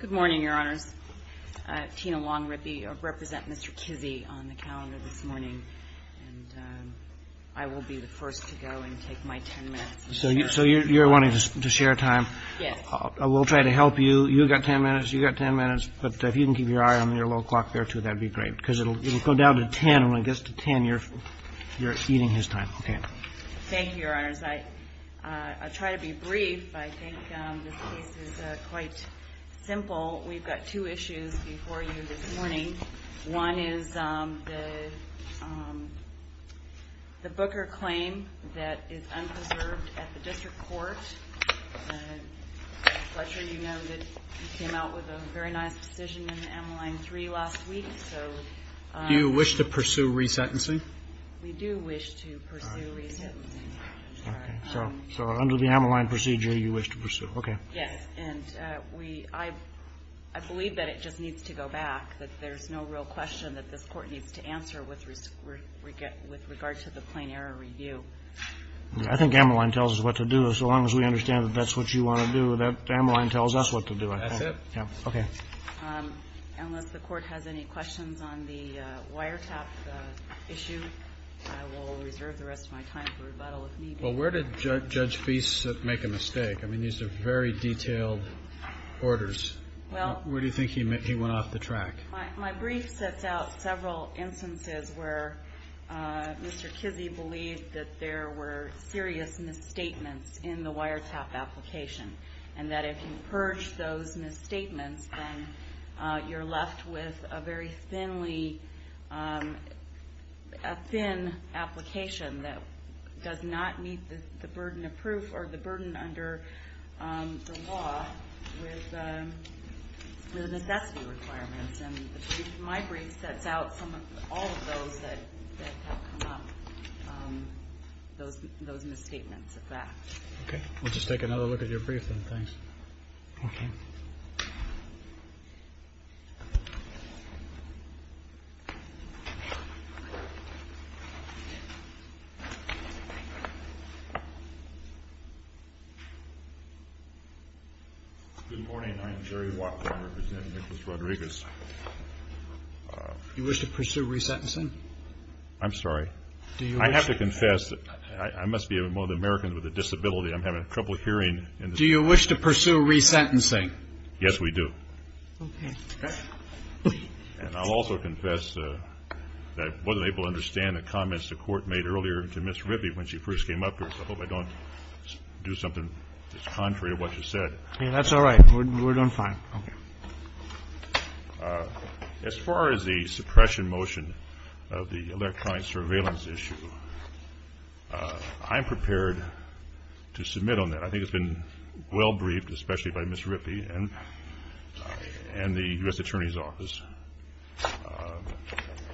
Good morning, Your Honors. Tina Long-Rippey, I represent Mr. Kizzee on the calendar this morning, and I will be the first to go and take my ten minutes. So you're wanting to share time? Yes. We'll try to help you. You've got ten minutes, you've got ten minutes, but if you can keep your eye on your little clock there, too, that would be great, because it will go down to ten, and when it gets to ten, you're eating his time. Okay. Thank you, Your Honors. I'll try to be brief. I think this case is quite simple. We've got two issues before you this morning. One is the Booker claim that is unpreserved at the district court. Mr. Fletcher, you know that you came out with a very nice decision in the M-Line 3 last week, so... Do you wish to pursue resentencing? We do wish to pursue resentencing. Okay. So under the M-Line procedure, you wish to pursue. Okay. Yes. And we – I believe that it just needs to go back, that there's no real question that this Court needs to answer with regard to the plain error review. I think M-Line tells us what to do. So long as we understand that that's what you want to do, that M-Line tells us what to do, I think. That's it. Yeah. Okay. Unless the Court has any questions on the wiretap issue, I will reserve the rest of my time for rebuttal, if need be. Well, where did Judge Feist make a mistake? I mean, these are very detailed orders. Well... Where do you think he went off the track? My brief sets out several instances where Mr. Kizzee believed that there were serious misstatements in the wiretap application, and that if you purge those misstatements then you're left with a very thinly – a thin application that does not meet the burden of proof or the burden under the law with necessity requirements. And my brief sets out some of – all of those that have come up, those misstatements of that. Okay. We'll just take another look at your brief then. Thanks. Okay. Thank you, Mr. Kizzee. You wish to pursue resentencing? I'm sorry? I have to confess, I must be one of the Americans with a disability. I'm having trouble hearing. Do you wish to pursue resentencing? Yes, we do. Okay. And I'll also confess that I wasn't able to understand the comments the court made earlier to Ms. Rippey when she first came up to us. I hope I don't do something that's contrary to what she said. That's all right. We're doing fine. Okay. As far as the suppression motion of the electronic surveillance issue, I'm prepared to submit on that. I think it's been well-briefed, especially by Ms. Rippey and the U.S. Attorney's Office.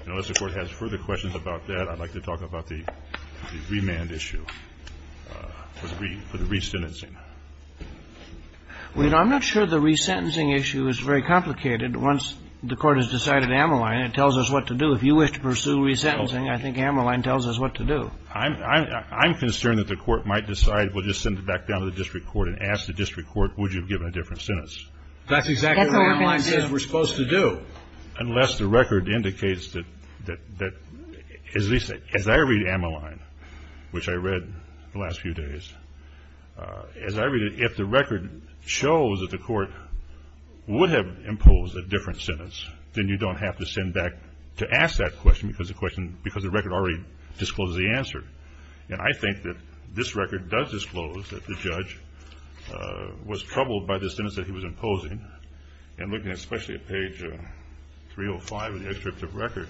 Unless the Court has further questions about that, I'd like to talk about the remand issue for the resentencing. Well, you know, I'm not sure the resentencing issue is very complicated. Once the Court has decided Ammaline, it tells us what to do. If you wish to pursue resentencing, I think Ammaline tells us what to do. I'm concerned that the Court might decide, well, just send it back down to the district court and ask the district court, would you have given a different sentence? That's exactly what Ammaline says we're supposed to do. Unless the record indicates that, at least as I read Ammaline, which I read the last few days, if the record shows that the Court would have imposed a different sentence, then you don't have to send back to ask that question because the record already discloses the answer. And I think that this record does disclose that the judge was troubled by the sentence that he was imposing. And looking especially at page 305 of the excerpt of record,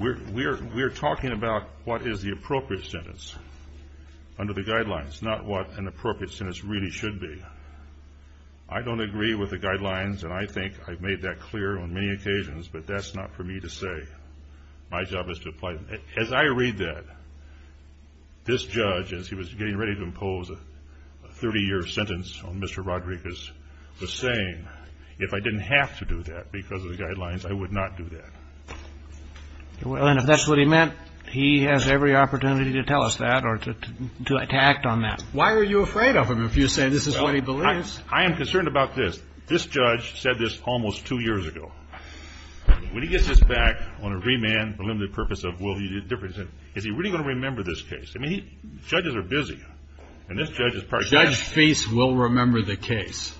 we're talking about what is the appropriate sentence under the guidelines, not what an appropriate sentence really should be. I don't agree with the guidelines, and I think I've made that clear on many occasions, but that's not for me to say. My job is to apply them. As I read that, this judge, as he was getting ready to impose a 30-year sentence on Mr. Rodriguez, was saying, if I didn't have to do that because of the guidelines, I would not do that. Well, and if that's what he meant, he has every opportunity to tell us that or to act on that. Why are you afraid of him if you say this is what he believes? I am concerned about this. This judge said this almost two years ago. When he gets this back on a remand for the limited purpose of will he do a different sentence, is he really going to remember this case? I mean, judges are busy, and this judge is probably going to remember it. Judge Fease will remember the case.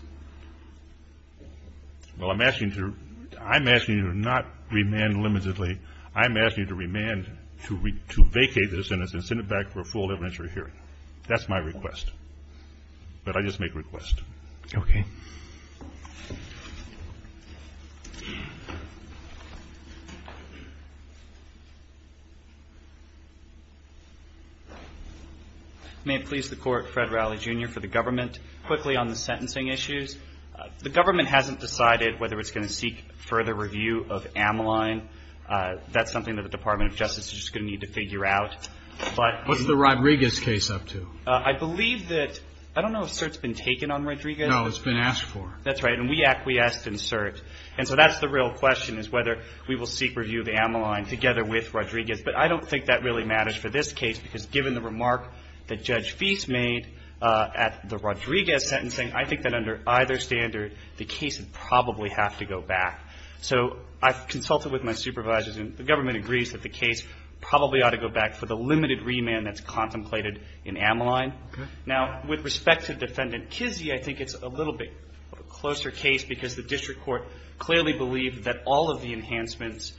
Well, I'm asking you to not remand limitedly. I'm asking you to remand to vacate the sentence and send it back for a full evidentiary hearing. That's my request. But I just make requests. Okay. Thank you. May it please the Court, Fred Rowley, Jr., for the government. Quickly on the sentencing issues. The government hasn't decided whether it's going to seek further review of Ameline. That's something that the Department of Justice is going to need to figure out. What's the Rodriguez case up to? I believe that – I don't know if cert's been taken on Rodriguez. No, it's been asked for. That's right. And we acquiesced in cert. And so that's the real question, is whether we will seek review of Ameline together with Rodriguez. But I don't think that really matters for this case, because given the remark that Judge Fease made at the Rodriguez sentencing, I think that under either standard, the case would probably have to go back. So I've consulted with my supervisors, and the government agrees that the case probably ought to go back for the limited remand that's contemplated in Ameline. Okay. Now, with respect to Defendant Kizzee, I think it's a little bit of a closer case, because the district court clearly believed that all of the enhancements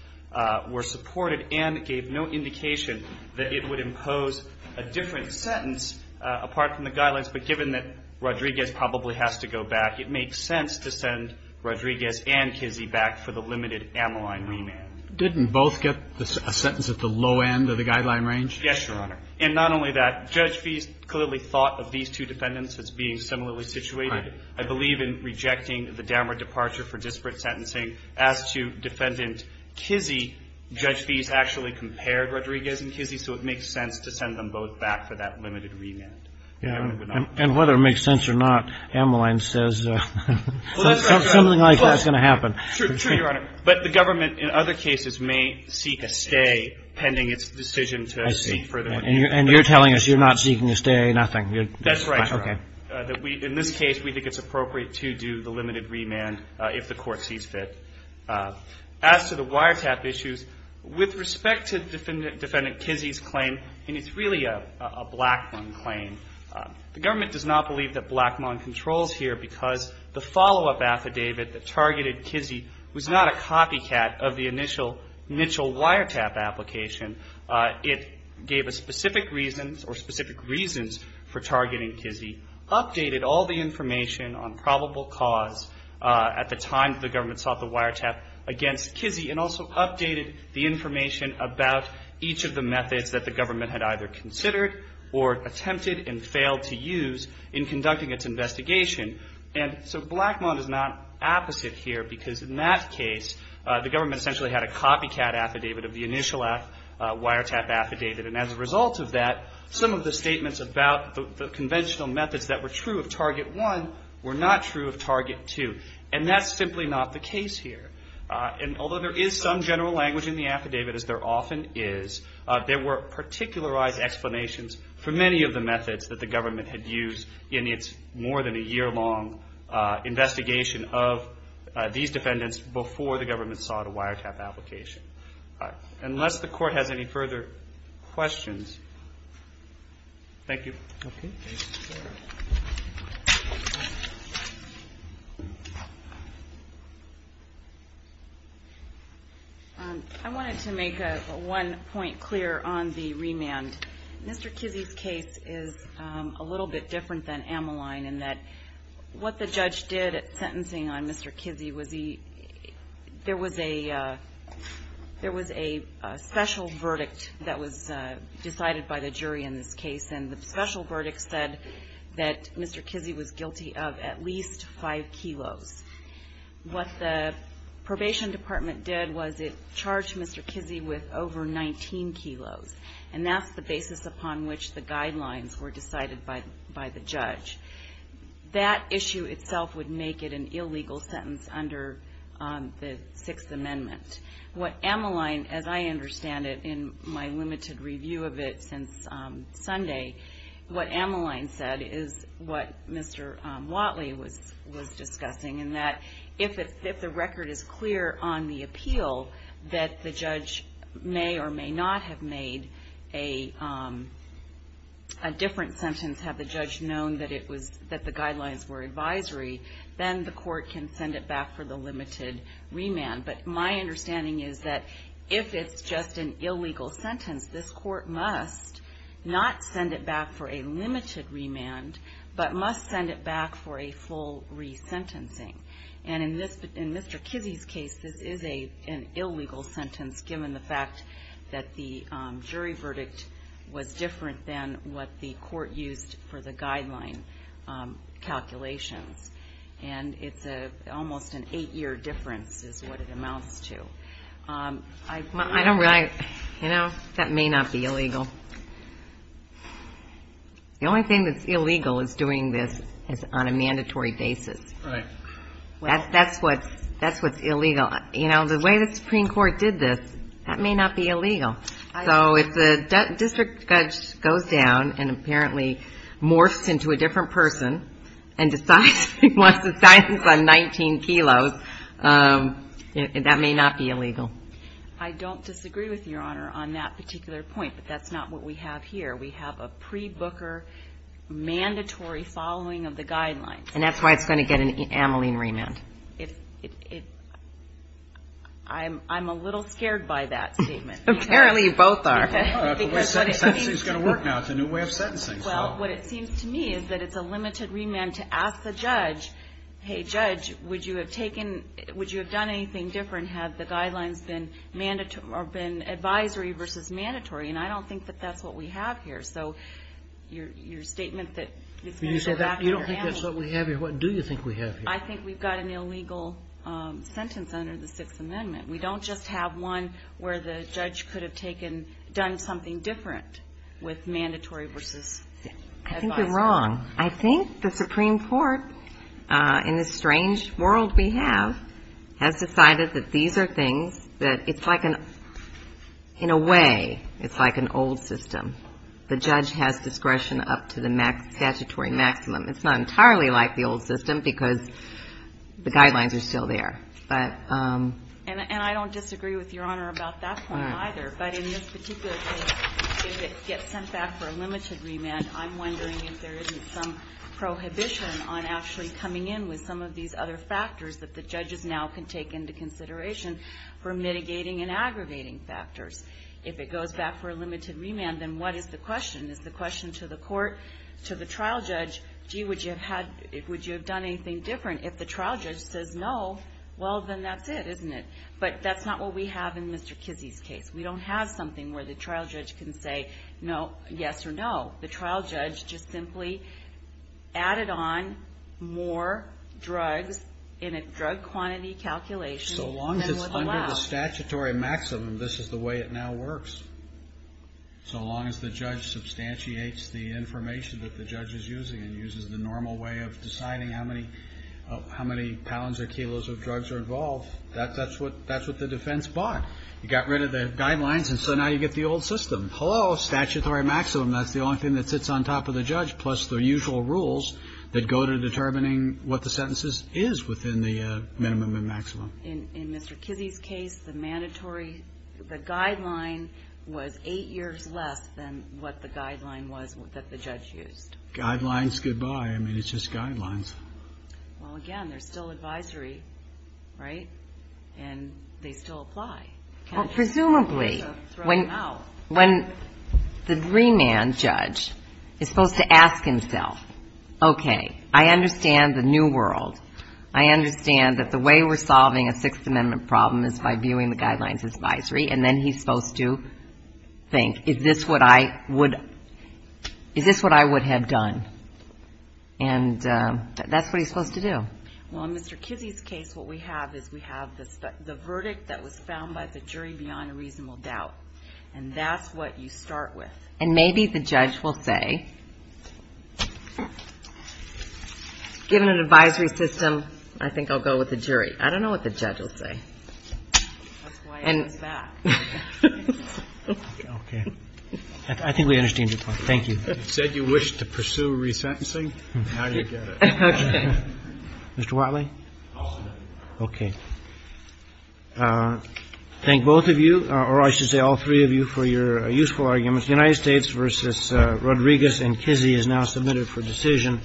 were supported and gave no indication that it would impose a different sentence apart from the guidelines. But given that Rodriguez probably has to go back, it makes sense to send Rodriguez and Kizzee back for the limited Ameline remand. Didn't both get a sentence at the low end of the guideline range? Yes, Your Honor. And not only that, Judge Fease clearly thought of these two defendants as being similarly situated. I believe in rejecting the downward departure for disparate sentencing. As to Defendant Kizzee, Judge Fease actually compared Rodriguez and Kizzee, so it makes sense to send them both back for that limited remand. And whether it makes sense or not, Ameline says something like that's going to happen. True, Your Honor. But the government, in other cases, may seek a stay pending its decision to seek further. I see. And you're telling us you're not seeking a stay, nothing? That's right, Your Honor. Okay. In this case, we think it's appropriate to do the limited remand if the court sees fit. As to the wiretap issues, with respect to Defendant Kizzee's claim, and it's really a Blackmon claim, the government does not believe that Blackmon controls here because the follow-up affidavit that targeted Kizzee was not a copycat of the initial wiretap application. It gave a specific reason or specific reasons for targeting Kizzee, updated all the information on probable cause at the time the government sought the wiretap against Kizzee, and also updated the information about each of the methods that the government had either considered or attempted and failed to use in conducting its investigation. And so Blackmon is not opposite here because, in that case, the government essentially had a copycat affidavit of the initial wiretap affidavit. And as a result of that, some of the statements about the conventional methods that were true of Target 1 were not true of Target 2, and that's simply not the case here. And although there is some general language in the affidavit, as there often is, there were particularized explanations for many of the methods that the government had used in its more than a year-long investigation of these defendants before the government sought a wiretap application. Unless the Court has any further questions. Thank you. I wanted to make one point clear on the remand. Mr. Kizzee's case is a little bit different than Amaline in that what the judge did at sentencing on Mr. Kizzee was there was a special verdict that was decided by the jury in this case, and the special verdict said that Mr. Kizzee was guilty of at least 5 kilos. What the probation department did was it charged Mr. Kizzee with over 19 kilos, and that's the basis upon which the guidelines were decided by the judge. That issue itself would make it an illegal sentence under the Sixth Amendment. What Amaline, as I understand it, in my limited review of it since Sunday, what Amaline said is what Mr. Watley was discussing, in that if the record is clear on the appeal, that the judge may or may not have made a different sentence, had the judge known that the guidelines were advisory, then the Court can send it back for the limited remand. But my understanding is that if it's just an illegal sentence, this Court must not send it back for a limited remand, but must send it back for a full resentencing. And in Mr. Kizzee's case, this is an illegal sentence, given the fact that the jury verdict was different than what the Court used for the guideline calculations. And it's almost an eight-year difference is what it amounts to. I don't really, you know, that may not be illegal. The only thing that's illegal is doing this on a mandatory basis. Right. That's what's illegal. You know, the way the Supreme Court did this, that may not be illegal. So if the district judge goes down and apparently morphs into a different person and decides he wants a sentence on 19 kilos, that may not be illegal. I don't disagree with Your Honor on that particular point, but that's not what we have here. We have a pre-Booker mandatory following of the guidelines. And that's why it's going to get an amylene remand. I'm a little scared by that statement. Apparently you both are. It's actually going to work now. It's a new way of sentencing. Well, what it seems to me is that it's a limited remand to ask the judge, hey, judge, would you have taken, would you have done anything different had the guidelines been mandatory or been advisory versus mandatory? And I don't think that that's what we have here. So your statement that it's going to go back to your amyles. You don't think that's what we have here? What do you think we have here? I think we've got an illegal sentence under the Sixth Amendment. We don't just have one where the judge could have taken, done something different with mandatory versus advisory. I think you're wrong. I think the Supreme Court, in this strange world we have, has decided that these are things that it's like an, in a way, it's like an old system. The judge has discretion up to the statutory maximum. It's not entirely like the old system because the guidelines are still there. But. And I don't disagree with Your Honor about that point either. But in this particular case, if it gets sent back for a limited remand, I'm wondering if there isn't some prohibition on actually coming in with some of these other factors that the judges now can take into consideration for mitigating and aggravating factors. If it goes back for a limited remand, then what is the question? Is the question to the court, to the trial judge, gee, would you have had, would you have done anything different? If the trial judge says no, well, then that's it, isn't it? But that's not what we have in Mr. Kizzy's case. We don't have something where the trial judge can say no, yes or no. The trial judge just simply added on more drugs in a drug quantity calculation. So long as it's under the statutory maximum, this is the way it now works. So long as the judge substantiates the information that the judge is using and uses the normal way of deciding how many pounds or kilos of drugs are involved, that's what the defense bought. You got rid of the guidelines, and so now you get the old system. Hello, statutory maximum, that's the only thing that sits on top of the judge, plus the usual rules that go to determining what the sentences is within the minimum and maximum. In Mr. Kizzy's case, the mandatory, the guideline was eight years less than what the guideline was that the judge used. Guidelines, goodbye. I mean, it's just guidelines. Well, again, there's still advisory, right? And they still apply. Well, presumably when the remand judge is supposed to ask himself, okay, I understand the new world. I understand that the way we're solving a Sixth Amendment problem is by viewing the guidelines as advisory, and then he's supposed to think, is this what I would have done? And that's what he's supposed to do. Well, in Mr. Kizzy's case, what we have is we have the verdict that was found by the jury beyond a reasonable doubt, and that's what you start with. And maybe the judge will say, given an advisory system, I think I'll go with the jury. I don't know what the judge will say. That's why I was back. Okay. I think we understand your point. Thank you. You said you wished to pursue resentencing. Now you get it. Okay. Mr. Whatley? I'll submit it. Okay. Thank both of you, or I should say all three of you, for your useful arguments. The United States v. Rodriguez and Kizzy is now submitted for decision.